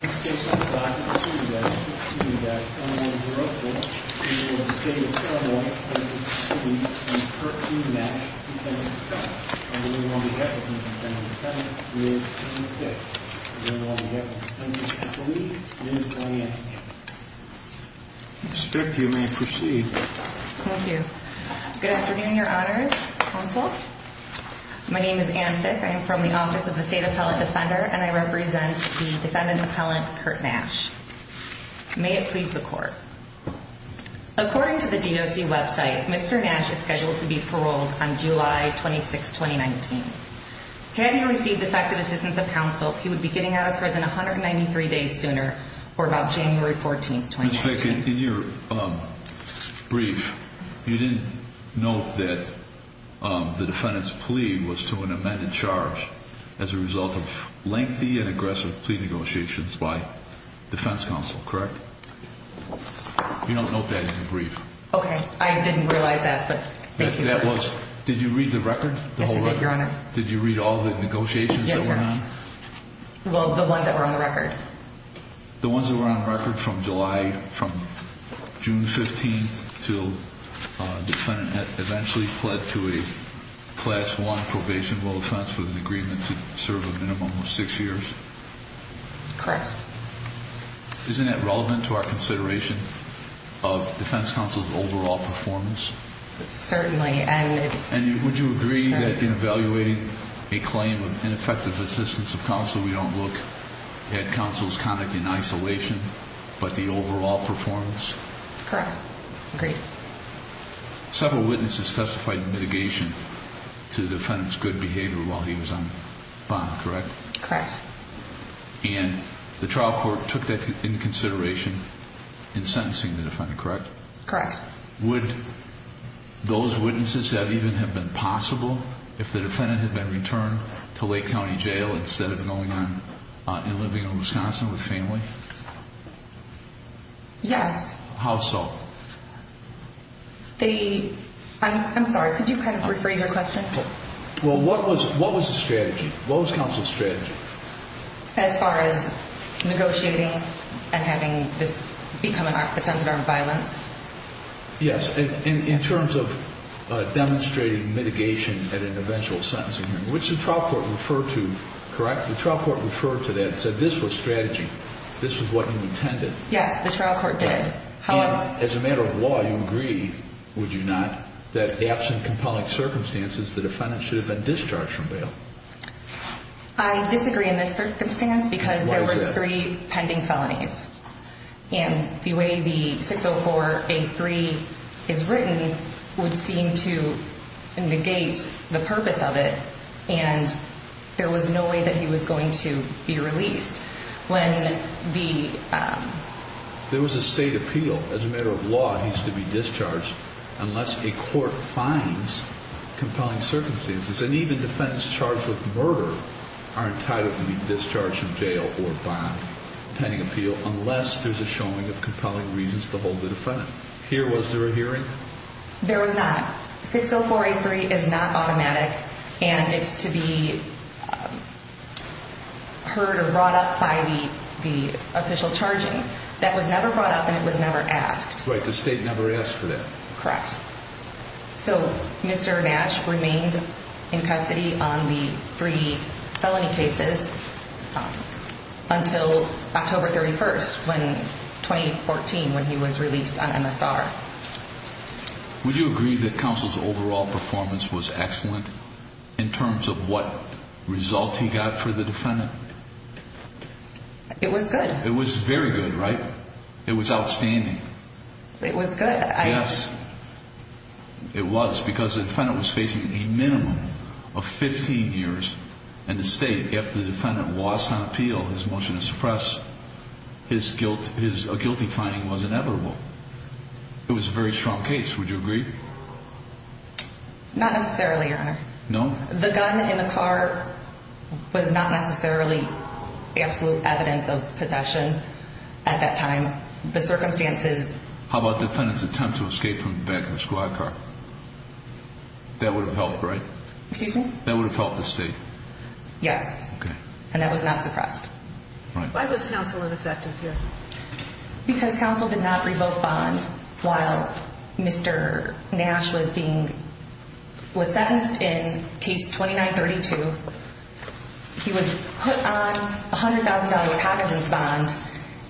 state of Carolina. Respect you may proceed. Thank you. Good afternoon, your honors. My name is Anne Fick. I am from the office of the state appellate defender and I represent the defendant appellant, Kurt Nash. May it please the court. According to the D.O.C. website, Mr. Nash is scheduled to be paroled on July 26, 2019. Had he received effective assistance of counsel, he would be getting out of prison 193 days sooner, or about January 14, 2019. In fact, in your brief, you didn't note that the defendant's plea was to an amended charge as a result of lengthy and aggressive plea negotiations by defense counsel, correct? You don't note that in the brief. OK, I didn't realize that, but that was. Did you read the record? Yes, I did, your honor. Did you read all the negotiations? Well, the ones that were on the record. The ones that were on record from July, from June 15 to the defendant eventually pled to a class one probation will offense with an agreement to serve a minimum of six years. Correct. Isn't that relevant to our consideration of defense counsel's overall performance? Certainly. And would you agree that in evaluating a claim of ineffective assistance of counsel, we don't look at counsel's conduct in isolation, but the overall performance? Correct. Agreed. Several witnesses testified in litigation to the defendant's good behavior while he was on bond, correct? Correct. And the trial court took that into consideration in sentencing the defendant, correct? Correct. Would those witnesses that even have been possible, if the defendant had been returned to Lake County Jail instead of going on and living in Wisconsin with family? Yes. How so? They, I'm sorry, could you kind of rephrase your question? Well, what was the strategy? What was counsel's strategy? As far as negotiating and having this become a pretense of armed violence? Yes. And in terms of demonstrating mitigation at an eventual sentencing hearing, which the trial court referred to, correct? The trial court referred to that and said this was strategy. This is what you intended. Yes, the trial court did. And as a matter of law, you agree, would you not, that absent compelling circumstances, the defendant should have been discharged from bail? I disagree in this circumstance because there was three pending felonies. And the way the 604A3 is written would seem to negate the purpose of it. And there was no way that he was going to be released. When the... There was a state appeal. As a matter of law, he's to be discharged unless a court finds compelling circumstances. And even defendants charged with murder are entitled to be discharged from jail or bond pending appeal unless there's a showing of compelling reasons to hold the defendant. Here, was there a hearing? There was not. 604A3 is not automatic. And it's to be heard or brought up by the official charging. That was never brought up and it was never asked. Right, the state never asked for that. Correct. So Mr. Nash remained in custody on the three felony cases until October 31st, 2014, when he was released on MSR. Would you agree that counsel's overall performance was excellent in terms of what result he got for the defendant? It was good. It was very good, right? It was outstanding. It was good. Yes, it was because the defendant was facing a minimum of 15 years in the state. If the defendant was on appeal, his motion to suppress his guilty finding was inevitable. It was a very strong case. Would you agree? Not necessarily, your honor. No? The gun in the car was not necessarily absolute evidence of possession at that time. The circumstances... How about the defendant's attempt to escape from the back of the squad car? That would have helped, right? Excuse me? That would have helped the state. Yes. Okay. And that was not suppressed. Why was counsel ineffective here? Because counsel did not revoke bond while Mr. Nash was being... was sentenced in case 2932. He was put on $100,000 Patterson's bond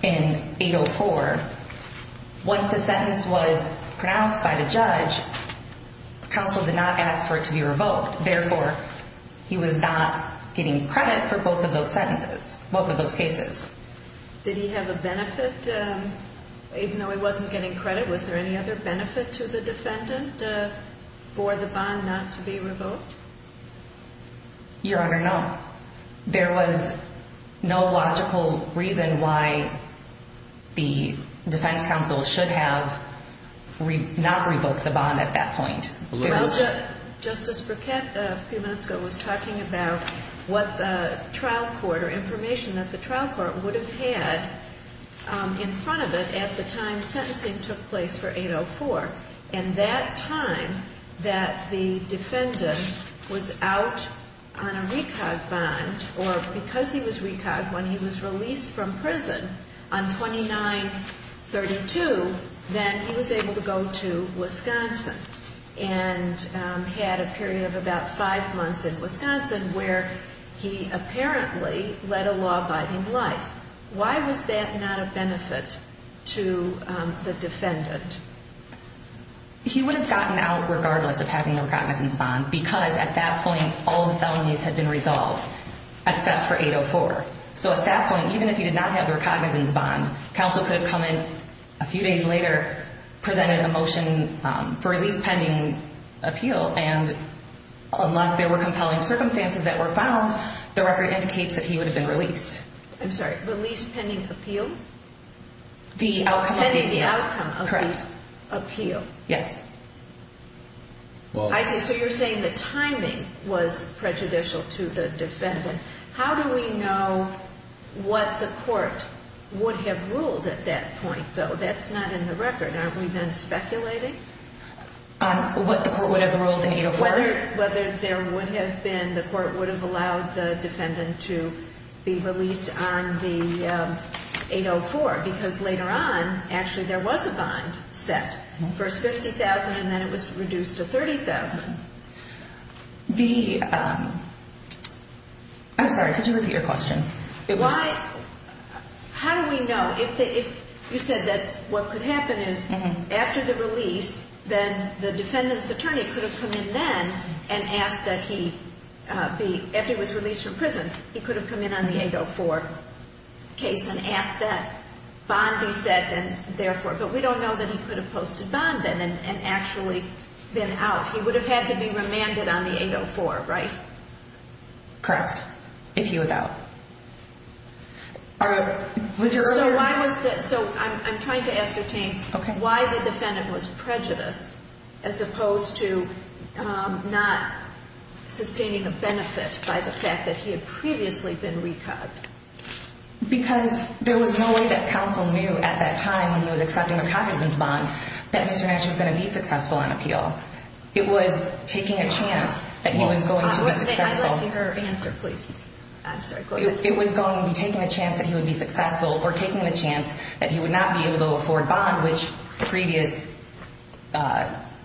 in 804. Once the sentence was pronounced by the judge, counsel did not ask for it to be revoked. Therefore, he was not getting credit for both of those sentences, both of those cases. Did he have a benefit even though he wasn't getting credit? Was there any other benefit to the defendant for the bond not to be revoked? Your honor, no. There was no logical reason why the defense counsel should have not revoked the bond at that point. Justice Burkett a few minutes ago was talking about what the trial court or information that the trial court would have had in front of it at the time sentencing took place for 804. And that time that the defendant was out on a recog bond or because he was recog, when he was released from prison on 2932, then he was able to go to Wisconsin and had a period of about five months in Wisconsin where he apparently led a law-abiding life. Why was that not a benefit to the defendant? He would have gotten out regardless of having the recognizance bond because at that point all the felonies had been resolved except for 804. So at that point, even if he did not have the recognizance bond, counsel could have come in a few days later, presented a motion for at least pending appeal. And unless there were compelling circumstances that were found, the record indicates that he would have been released. I'm sorry, released pending appeal? The outcome of the appeal. Correct. Yes. So you're saying the timing was prejudicial to the defendant. How do we know what the court would have ruled at that point though? That's not in the record. Have we been speculating? What the court would have ruled in 804? Whether there would have been, the court would have allowed the defendant to be released on the 804 because later on, actually there was a bond set. First 50,000 and then it was reduced to 30,000. The, I'm sorry, could you repeat your question? How do we know if you said that what could happen is after the release, then the defendant's attorney could have come in then and asked that he be, after he was released from prison, he could have come in on the 804 case and asked that bond be set and therefore, but we don't know that he could have posted bond then and actually been out. He would have had to be remanded on the 804, right? Correct. If he was out. So I'm trying to ascertain why the defendant was prejudiced as opposed to not sustaining a benefit by the fact that he had previously been recobbed. Because there was no way that counsel knew at that time when he was accepting a cognizant bond that Mr. Nash was going to be successful on appeal. It was taking a chance that he was going to be successful. It was going to be taking a chance that he would be successful or taking the chance that he would not be able to afford bond, which previous,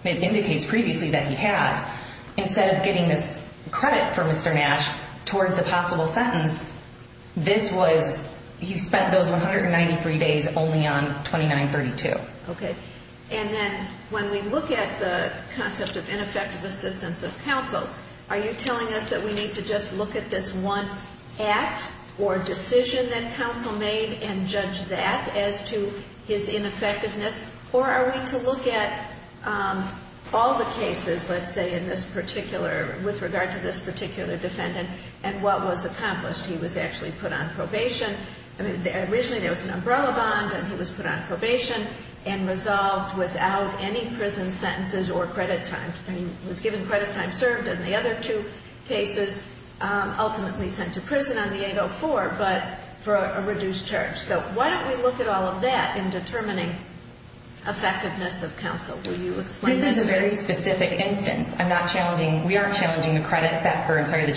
indicates previously that he had, instead of getting this credit for Mr. Nash towards the possible sentence, this was, he spent those 193 days only on 2932. Okay. And then when we look at the concept of ineffective assistance of counsel, are you telling us that we need to just look at this one act or decision that counsel made and judge that as to his ineffectiveness? Or are we to look at all the cases, let's say in this particular, with regard to this particular defendant, and what was accomplished? He was actually put on probation. I mean, originally there was an umbrella bond and he was put on probation and resolved without any prison sentences or credit time. I mean, he was given credit time served in the other two cases, ultimately sent to prison on the 804, but for a reduced charge. So why don't we look at all of that in determining effectiveness of counsel? This is a very specific instance. I'm not challenging. We are challenging the credit that, I'm sorry, the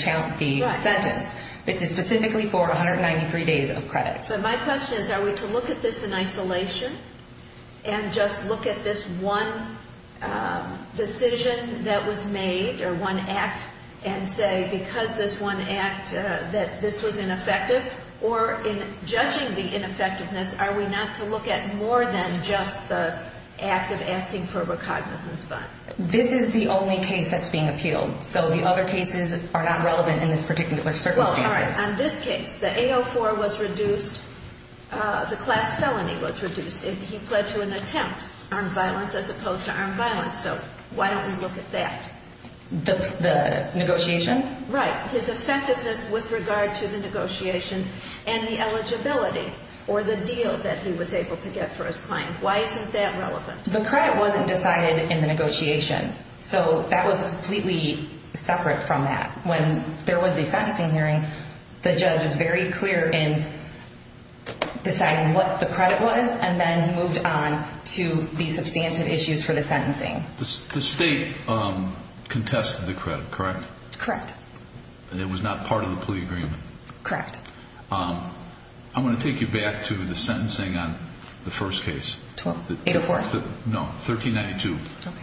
sentence. This is specifically for 193 days of credit. So my question is, are we to look at this in isolation and just look at this one decision that was made or one act and say, because this one act that this was ineffective or in judging the ineffectiveness, are we not to look at more than just the act of asking for a recognizance bond? This is the only case that's being appealed. So the other cases are not relevant in this particular circumstance. On this case, the 804 was reduced. The class felony was reduced. He pled to an attempt, armed violence as opposed to armed violence. So why don't we look at that? The negotiation? Right. His effectiveness with regard to the negotiations and the eligibility or the deal that he was able to get for his client. Why isn't that relevant? The credit wasn't decided in the negotiation. So that was completely separate from that. When there was the sentencing hearing, the judge is very clear in deciding what the credit was. And then he moved on to the substantive issues for the sentencing. The state contested the credit, correct? Correct. And it was not part of the plea agreement? Correct. I'm going to take you back to the sentencing on the first case. 12? 804? No, 1392.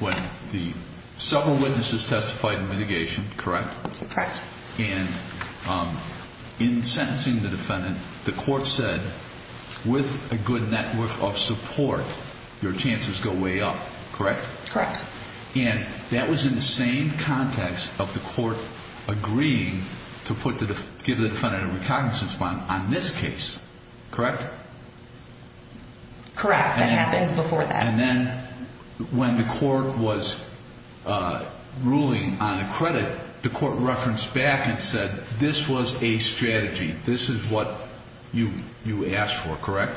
When the several witnesses testified in litigation, correct? Correct. And in sentencing the defendant, the court said, with a good network of support, your chances go way up, correct? Correct. And that was in the same context of the court agreeing to give the defendant a recognizance bond on this case, correct? Correct. That happened before that. And then when the court was ruling on the credit, the court referenced back and said, this was a strategy. This is what you asked for, correct?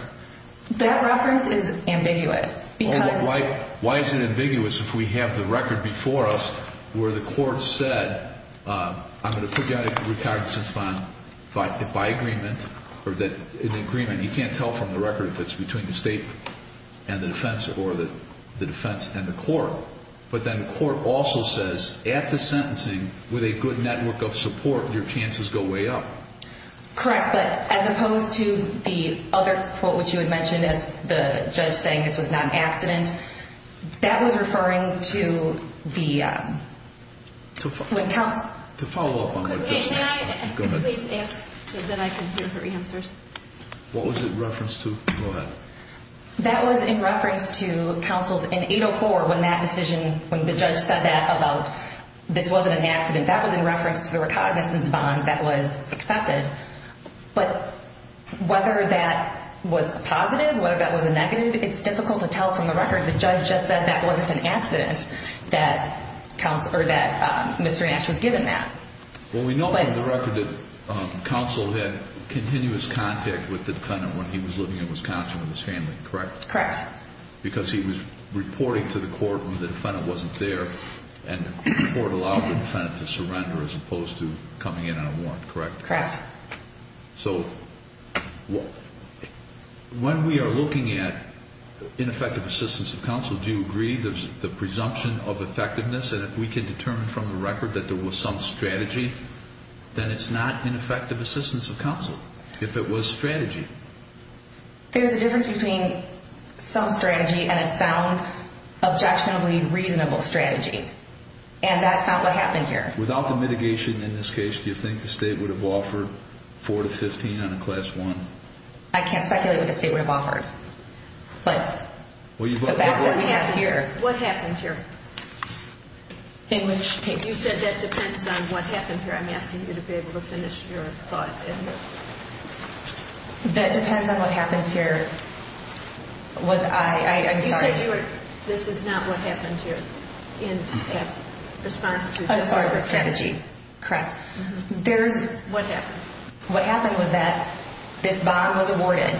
That reference is ambiguous. Why is it ambiguous if we have the record before us where the court said, I'm going to put you on a recognizance bond by agreement? Or that in agreement, you can't tell from the record if it's between the state and the defense or the defense and the court. But then the court also says, at the sentencing, with a good network of support, your chances go way up. Correct. But as opposed to the other quote, which you had mentioned, as the judge saying this was not an accident, that was referring to the when counsel- To follow up on that- Could we please ask so that I can hear her answers? What was it referenced to? Go ahead. That was in reference to counsels in 804 when that decision, when the judge said that about this wasn't an accident, that was in reference to the recognizance bond that was accepted. But whether that was a positive, whether that was a negative, it's difficult to tell from the record. The judge just said that wasn't an accident that Mr. Nash was given that. Well, we know from the record that counsel had continuous contact with the defendant when he was living in Wisconsin with his family, correct? Correct. Because he was reporting to the court when the defendant wasn't there and the court allowed the defendant to surrender as opposed to coming in on a warrant, correct? Correct. So when we are looking at ineffective assistance of counsel, do you agree there's the presumption of effectiveness and if we can determine from the record that there was some strategy, then it's not ineffective assistance of counsel if it was strategy. There's a difference between some strategy and a sound, objectionably reasonable strategy. And that's not what happened here. Without the mitigation in this case, do you think the state would have offered 4 to 15 on a class 1? I can't speculate what the state would have offered, but the facts that we have here... What happened here? In which case? You said that depends on what happened here. I'm asking you to be able to finish your thought. That depends on what happens here. Was I... You said this is not what happened here in response to... As far as the strategy, correct. What happened? What happened was that this bond was awarded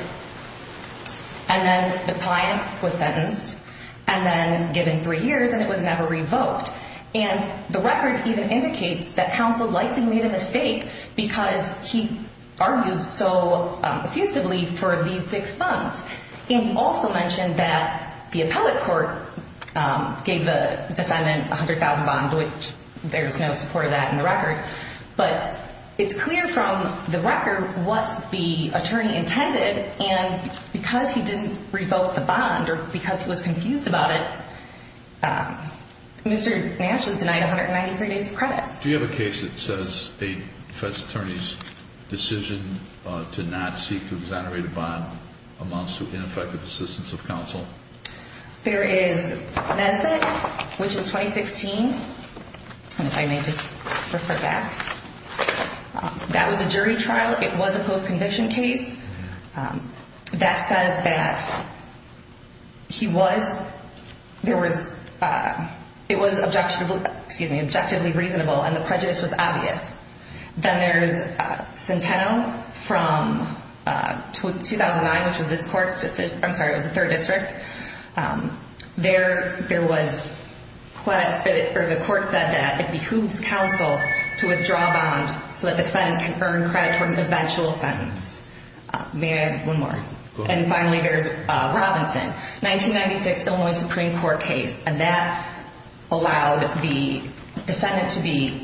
and then the client was sentenced and then given three years and it was never revoked. And the record even indicates that counsel likely made a mistake because he argued so effusively for these six funds. And he also mentioned that the appellate court gave the defendant 100,000 bond, which there's no support of that in the record. But it's clear from the record what the attorney intended. And because he didn't revoke the bond or because he was confused about it, Mr. Nash was denied 193 days of credit. Do you have a case that says a defense attorney's decision to not seek to exonerate a bond amounts to ineffective assistance of counsel? There is Nesbitt, which is 2016. And if I may just refer back. That was a jury trial. It was a post-conviction case. That says that he was... There was... It was objectionable, excuse me, objectively reasonable and the prejudice was obvious. Then there's Centeno from 2009, which was this court's decision. I'm sorry, it was the third district. The court said that it behooves counsel to withdraw a bond so that the defendant can earn credit for an eventual sentence. May I have one more? And finally, there's Robinson, 1996, Illinois Supreme Court case. And that allowed the defendant to be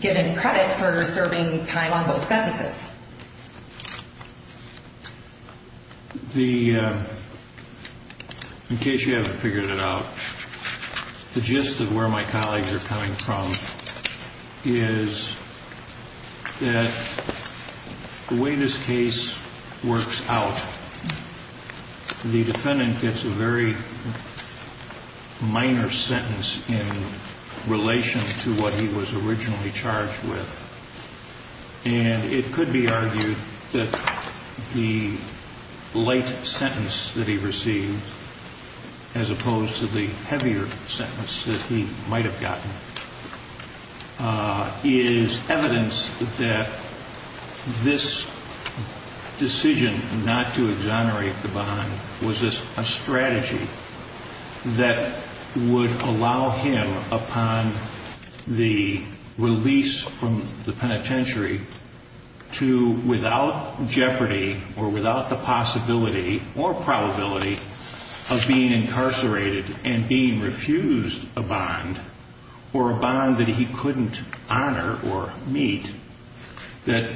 given credit for serving time on both sentences. In case you haven't figured it out, the gist of where my colleagues are coming from is that the way this case works out, the defendant gets a very minor sentence in relation to what he was originally charged with. And it could be that the defendant that the late sentence that he received, as opposed to the heavier sentence that he might've gotten, is evidence that this decision not to exonerate the bond was a strategy that would allow him upon the release from the penitentiary to, without jeopardy or without the possibility or probability of being incarcerated and being refused a bond or a bond that he couldn't honor or meet, that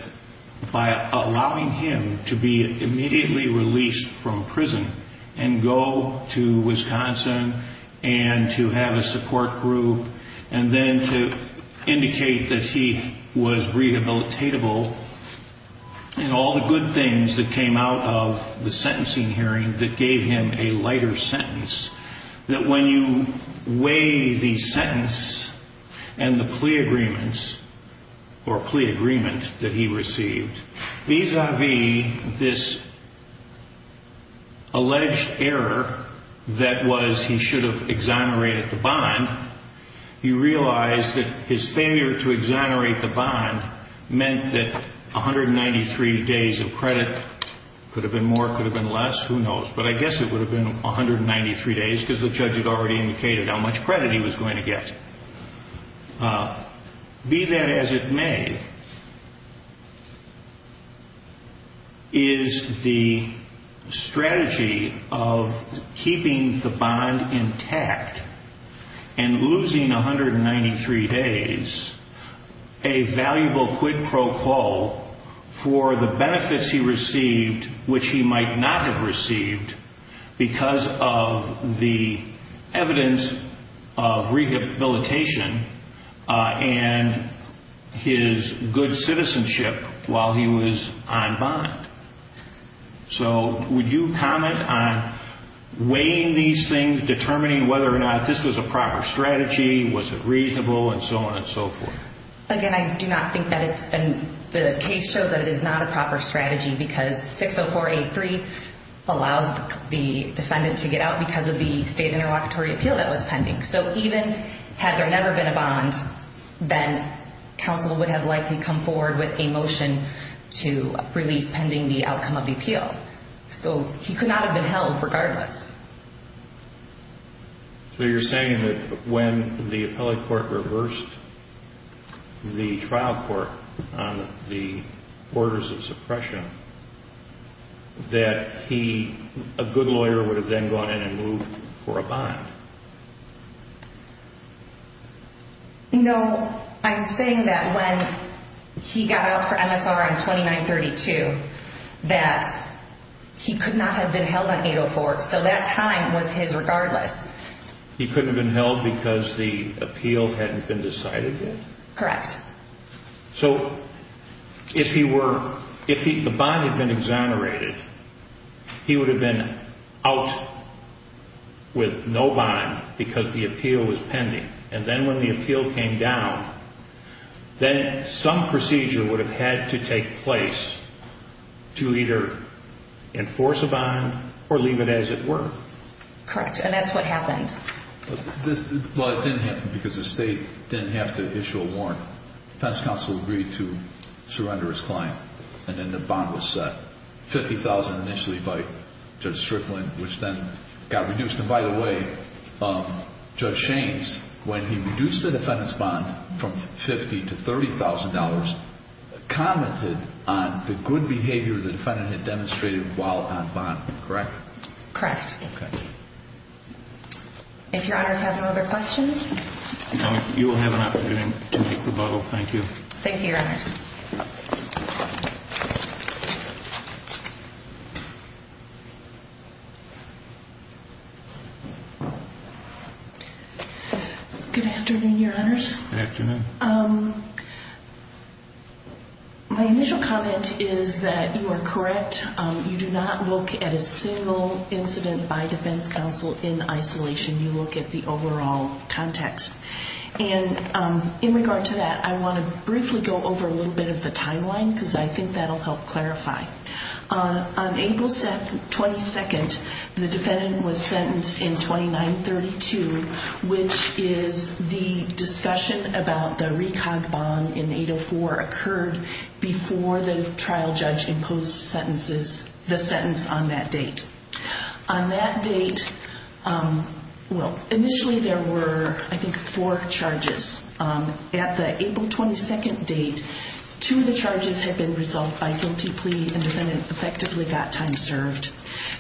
by allowing him to be immediately released from prison and go to Wisconsin and to have a support group and then to indicate that he was rehabilitatable and all the good things that came out of the sentencing hearing that gave him a lighter sentence, that when you weigh the sentence and the plea agreements or plea agreement that he received vis-a-vis this alleged error that was he should've exonerated the bond, you realize that his failure to exonerate the bond meant that 193 days of credit, could've been more, could've been less, who knows. But I guess it would've been 193 days because the judge had already indicated how much credit he was going to get. Be that as it may, is the strategy of keeping the bond intact and losing 193 days a valuable quid pro quo for the benefits he received which he might not have received because of the evidence of rehabilitation and his good citizenship while he was on bond. So would you comment on weighing these things, determining whether or not this was a proper strategy, was it reasonable and so on and so forth? Again, I do not think that it's, and the case shows that it is not a proper strategy because 604A3 allows the defendant to get out because of the state interlocutory appeal that was pending. So even had there never been a bond, then counsel would have likely come forward with a motion to release pending the outcome of the appeal. So he could not have been held regardless. So you're saying that when the appellate court reversed the trial court on the orders of suppression, that he, a good lawyer, would have then gone in and moved for a bond? No, I'm saying that when he got out for MSR on 2932, that he could not have been held on 804. So that time was his regardless. He couldn't have been held because the appeal hadn't been decided yet? Correct. So if he were, if the bond had been exonerated, he would have been out with no bond because the appeal was pending. And then when the appeal came down, then some procedure would have had to take place to either enforce a bond or leave it as it were? Correct. And that's what happened. Well, it didn't happen because the state didn't have to issue a warrant. The defense counsel agreed to surrender his client. And then the bond was set $50,000 initially by Judge Strickland, which then got reduced. And by the way, Judge Shaines, when he reduced the defendant's bond from $50,000 to $30,000, he commented on the good behavior the defendant had demonstrated while on bond, correct? Correct. If your honors have no other questions. You will have an opportunity to make rebuttal. Thank you. Good afternoon, your honors. Good afternoon. My initial comment is that you are correct. You do not look at a single incident by defense counsel in isolation. You look at the overall context. And in regard to that, I want to briefly go over a little bit of the timeline because I think that'll help clarify. On April 22nd, the defendant was sentenced in 2932, which is the discussion about the recon bond in 804 occurred before the trial judge imposed sentences, the sentence on that date. On that date, well, initially there were, I think, four charges. At the April 22nd date, two of the charges had been resolved by guilty plea and the defendant effectively got time served.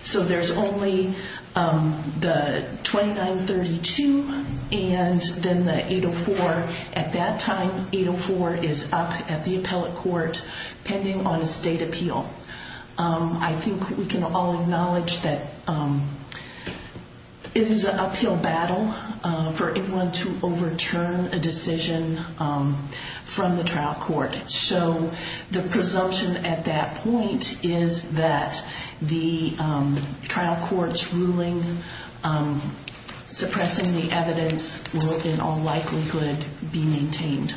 So there's only the 2932 and then the 804. At that time, 804 is up at the appellate court pending on a state appeal. I think we can all acknowledge that it is an uphill battle for anyone to overturn a decision from the trial court. So the presumption at that point is that the trial court's ruling suppressing the evidence will in all likelihood be maintained.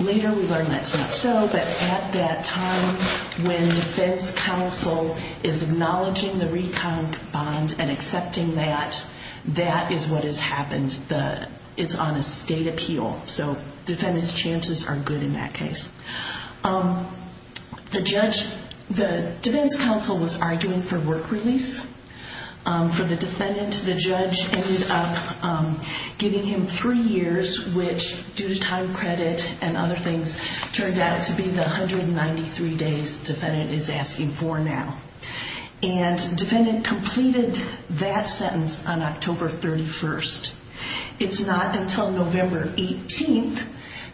Later we learned that's not so, but at that time when defense counsel is acknowledging the recon bond and accepting that, that is what has happened. It's on a state appeal. So defendant's chances are good in that case. The defense counsel was arguing for work release. For the defendant, the judge ended up giving him three years, which due to time credit and other things turned out to be the 193 days defendant is asking for now. And defendant completed that sentence on October 31st. It's not until November 18th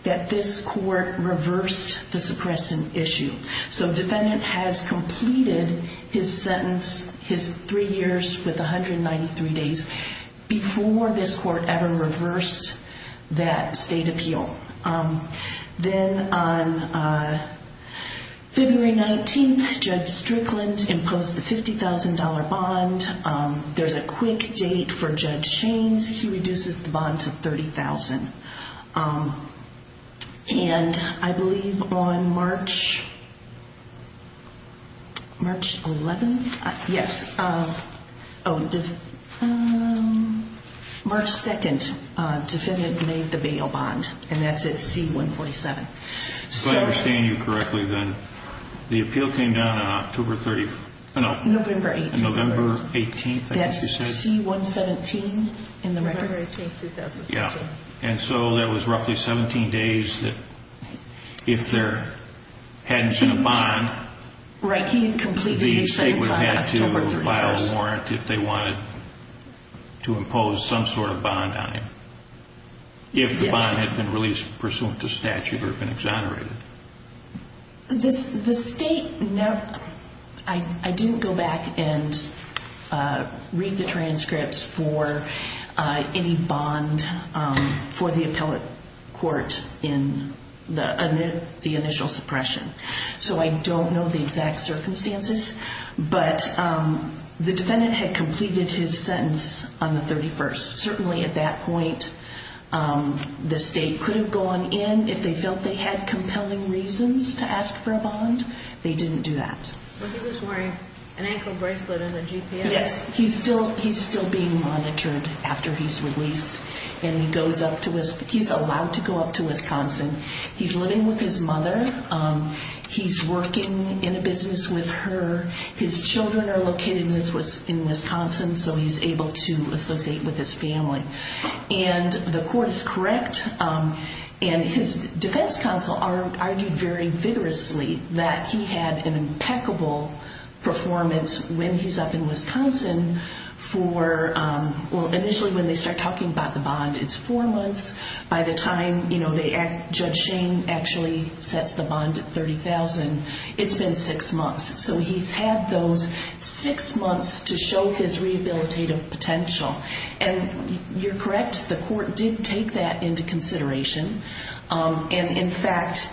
that this court reversed the suppressing issue. So defendant has completed his sentence, his three years with 193 days before this court ever reversed that state appeal. Then on February 19th, Judge Strickland imposed the $50,000 bond. There's a quick date for Judge Shaines. He reduces the bond to $30,000. And I believe on March 11th, yes. March 2nd, defendant made the bail bond and that's at C-147. If I understand you correctly, then the appeal came down on October 30th? No, November 18th. That's C-117 in the record? November 18th, 2015. Yeah. And so there was roughly 17 days that if there hadn't been a bond, the state would have had to file a warrant if they wanted to impose some sort of bond on him. If the bond had been released pursuant to statute or been exonerated. I didn't go back and read the transcripts for any bond for the appellate court in the initial suppression. So I don't know the exact circumstances, but the defendant had completed his sentence on the 31st. At that point, the state could have gone in if they felt they had compelling reasons to ask for a bond. They didn't do that. But he was wearing an ankle bracelet and a GPS. Yes, he's still being monitored after he's released. He's allowed to go up to Wisconsin. He's living with his mother. He's working in a business with her. His children are located in Wisconsin. So he's able to associate with his family. And the court is correct. And his defense counsel argued very vigorously that he had an impeccable performance when he's up in Wisconsin. Initially, when they start talking about the bond, it's four months. By the time Judge Shane actually sets the bond at $30,000, it's been six months. So he's had those six months to show his rehabilitative potential. And you're correct. The court did take that into consideration. And, in fact,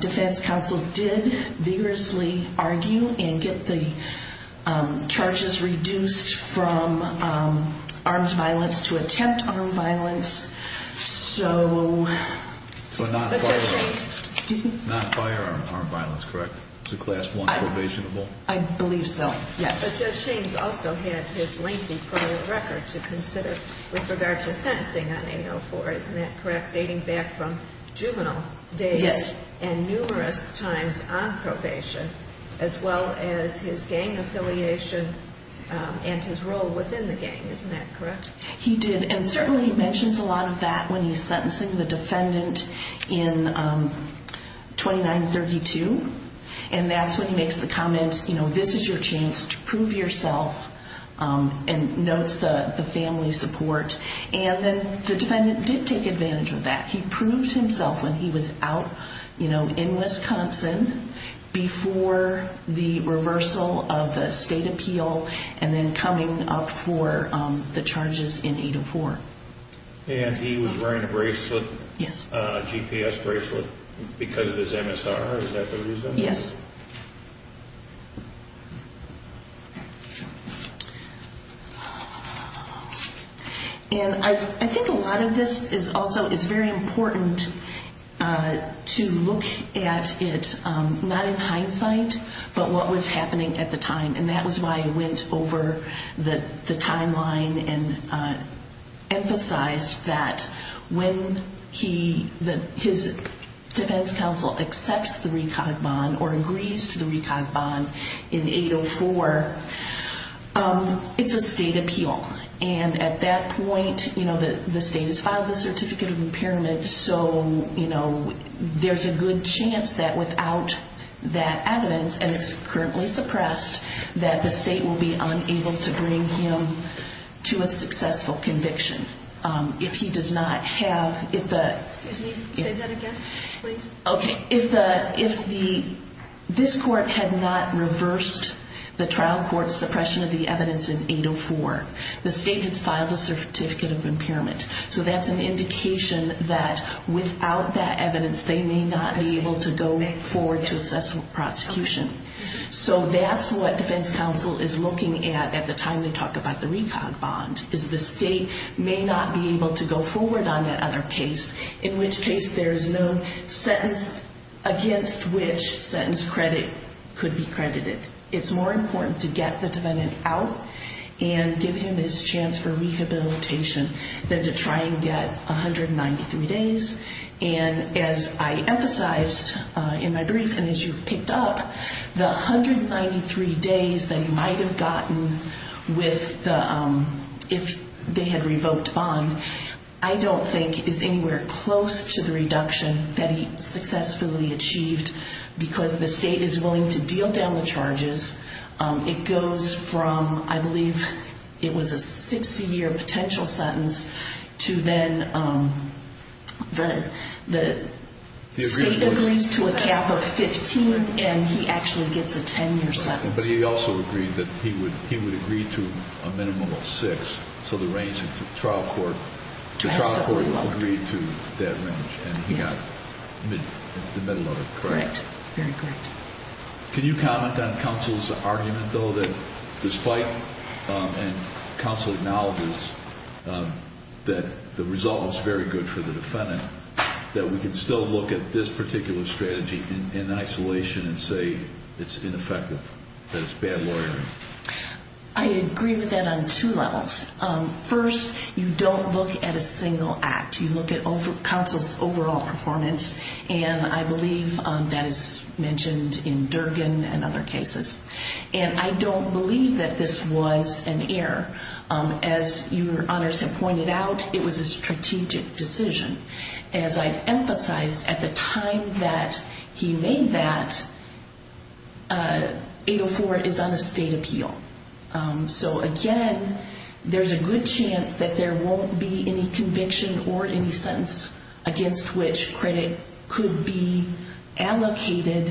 defense counsel did vigorously argue and get the charges reduced from armed violence to attempt armed violence. So... Not firearm armed violence, correct? It's a class one probationable? I believe so, yes. But Judge Shane's also had his lengthy prior record to consider with regard to sentencing on 804. Isn't that correct? Dating back from juvenile days and numerous times on probation, as well as his gang affiliation and his role within the gang. Isn't that correct? He did. And certainly he mentions a lot of that when he's sentencing the defendant in 2932. And that's when he makes the comment, you know, this is your chance to prove yourself. And notes the family support. And then the defendant did take advantage of that. He proved himself when he was out, you know, in Wisconsin before the reversal of the state appeal. And then coming up for the charges in 804. And he was wearing a bracelet, a GPS bracelet, because of his MSR. Is that the reason? Yes. And I think a lot of this is also... It's very important to look at it, not in hindsight, but what was happening at the time. And that was why I went over the timeline and emphasized that when his defense counsel accepts the RECOG bond or agrees to the RECOG bond in 804, it's a state appeal. And at that point, you know, the state has filed the certificate of impairment. So, you know, there's a good chance that without that evidence, and it's currently suppressed, that the state will be unable to bring him to a successful conviction. If he does not have... Excuse me, say that again, please. Okay. If this court had not reversed the trial court's suppression of the evidence in 804, the state has filed a certificate of impairment. So that's an indication that without that evidence, they may not be able to go forward to assess prosecution. So that's what defense counsel is looking at at the time they talk about the RECOG bond, is the state may not be able to go forward on that other case, in which case there is no sentence against which sentence credit could be credited. It's more important to get the defendant out and give him his chance for rehabilitation than to try and get 193 days. And as I emphasized in my brief, and as you've picked up, the 193 days that he might have gotten if they had revoked bond, I don't think is anywhere close to the reduction that he successfully achieved because the state is willing to deal down the charges. It goes from, I believe it was a 60-year potential sentence, to then the state agrees to a cap of 15 and he actually gets a 10-year sentence. But he also agreed that he would agree to a minimum of six, so the range of the trial court agreed to that range and he got the middle of it, correct? Correct, very correct. Can you comment on counsel's argument though that despite and counsel acknowledges that the result was very good for the defendant, that we can still look at this particular strategy in isolation and say it's ineffective, that it's bad lawyering? I agree with that on two levels. First, you don't look at a single act. You look at counsel's overall performance. I believe that is mentioned in Durgan and other cases. I don't believe that this was an error. As your honors have pointed out, it was a strategic decision. As I've emphasized, at the time that he made that, 804 is on a state appeal. Again, there's a good chance that there won't be any conviction or any sentence against which credit could be allocated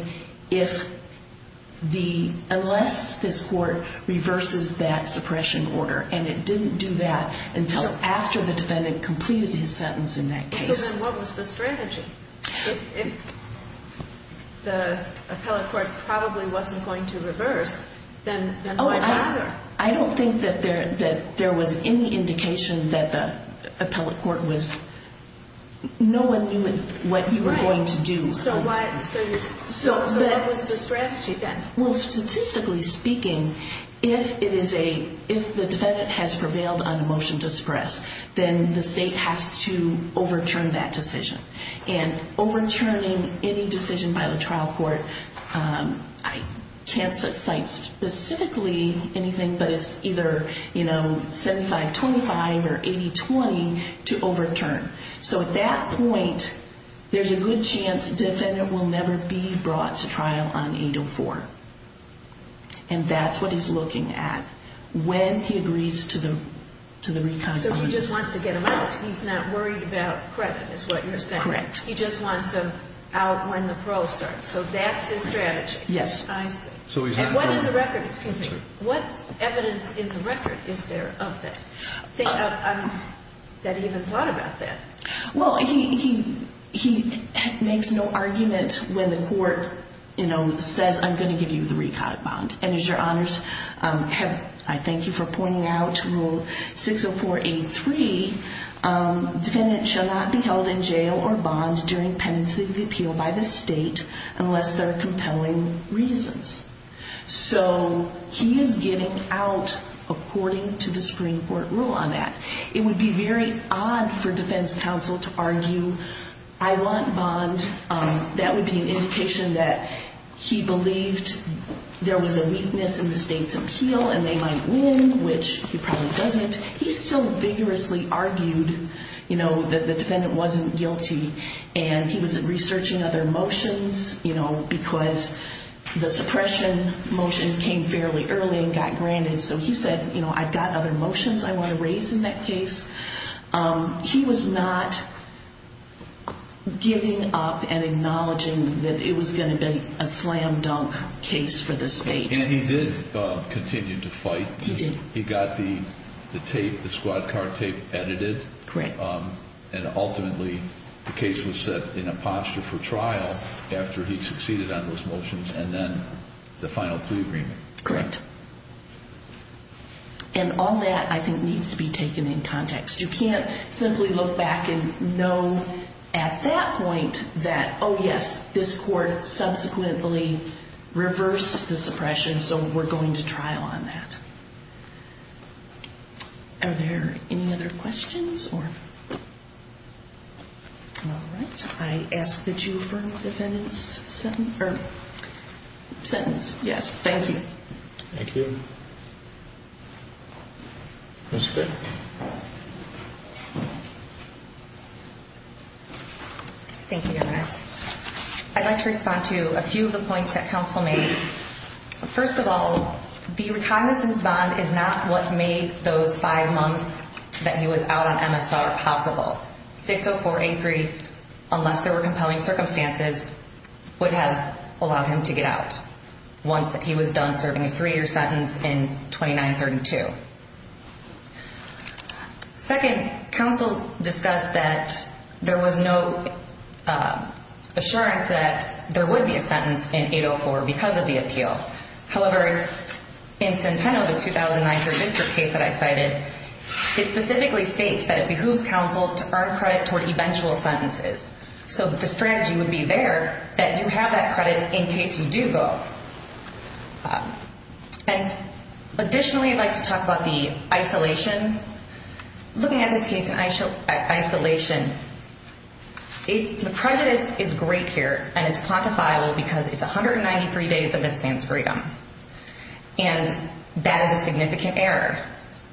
unless this court reverses that suppression order. And it didn't do that until after the defendant completed his sentence in that case. So then what was the strategy? If the appellate court probably wasn't going to reverse, then why bother? I don't think that there was any indication that the appellate court was... No one knew what you were going to do. So what was the strategy then? Well, statistically speaking, if the defendant has prevailed on a motion to suppress, then the state has to overturn that decision. And overturning any decision by the trial court, I can't cite specifically anything, but it's either 75-25 or 80-20 to overturn. So at that point, there's a good chance the defendant will never be brought to trial on 804. And that's what he's looking at when he agrees to the reconfirmation. So he just wants to get him out. He's not worried about credit, is what you're saying. Correct. He just wants him out when the parole starts. So that's his strategy. Yes. I see. What evidence in the record is there of that, that he even thought about that? Well, he makes no argument when the court says, I'm going to give you the recon bond. And as your honors have... I thank you for pointing out rule 60483, defendant shall not be held in jail or bond during penalty repeal by the state. Unless there are compelling reasons. So he is getting out according to the Supreme Court rule on that. It would be very odd for defense counsel to argue, I want bond. That would be an indication that he believed there was a weakness in the state's appeal and they might win, which he probably doesn't. He still vigorously argued that the defendant wasn't guilty. And he was researching other motions, because the suppression motion came fairly early and got granted. So he said, I've got other motions I want to raise in that case. He was not giving up and acknowledging that it was going to be a slam dunk case for the state. And he did continue to fight. He did. He got the tape, the squad car tape edited. Correct. And ultimately, the case was set in a posture for trial after he succeeded on those motions and then the final plea agreement. Correct. And all that I think needs to be taken in context. You can't simply look back and know at that point that, oh, yes, this court subsequently reversed the suppression. So we're going to trial on that. Are there any other questions or? All right. I ask that you affirm the defendant's sentence. Yes. Thank you. Thank you. Ms. Fick. Thank you, Your Honors. I'd like to respond to a few of the points that counsel made. First of all, the recognizance bond is not what made those five months that he was out on MSR possible. 60483, unless there were compelling circumstances, would have allowed him to get out once he was done serving a three-year sentence in 2932. Second, counsel discussed that there was no assurance that there would be a sentence in 804 because of the appeal. However, in Centeno, the 2009 third district case that I cited, it specifically states that it behooves counsel to earn credit toward eventual sentences. So the strategy would be there that you have that credit in case you do go. And additionally, I'd like to talk about the isolation. Looking at this case in isolation, the prejudice is great here and it's quantifiable because it's 193 days of this man's freedom. And that is a significant error.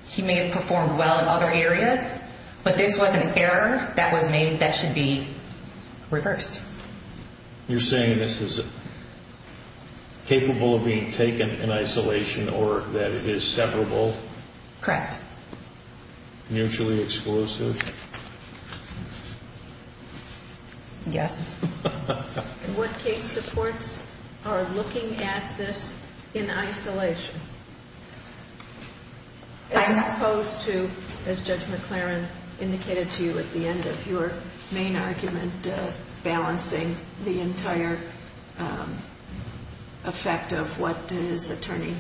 He may have performed well in other areas, but this was an error that was made that should be reversed. You're saying this is capable of being taken in isolation or that it is separable? Correct. Mutually explosive? Yes. And what case supports are looking at this in isolation? As opposed to, as Judge McLaren indicated to you at the end of your main argument, balancing the entire effect of what his attorney,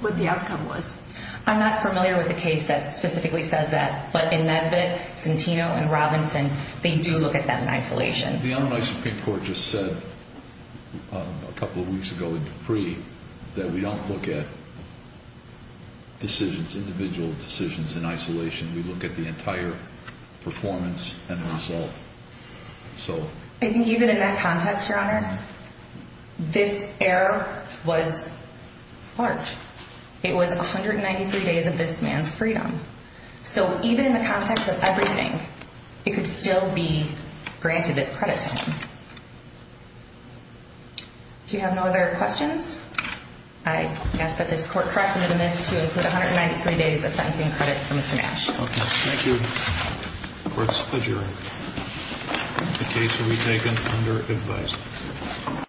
what the outcome was. I'm not familiar with the case that specifically says that, but in Nesbitt, Centeno, and Robinson, they do look at them in isolation. The Illinois Supreme Court just said a couple of weeks ago in Dupree that we don't look at decisions, individual decisions in isolation. We look at the entire performance and the result. I think even in that context, Your Honor, this error was large. It was 193 days of this man's freedom. So even in the context of everything, it could still be granted this credit to him. If you have no other questions, I ask that this court correct me to include 193 days of sentencing credit for Mr. Nash. Okay. Thank you. Court is adjourned. The case will be taken under advice.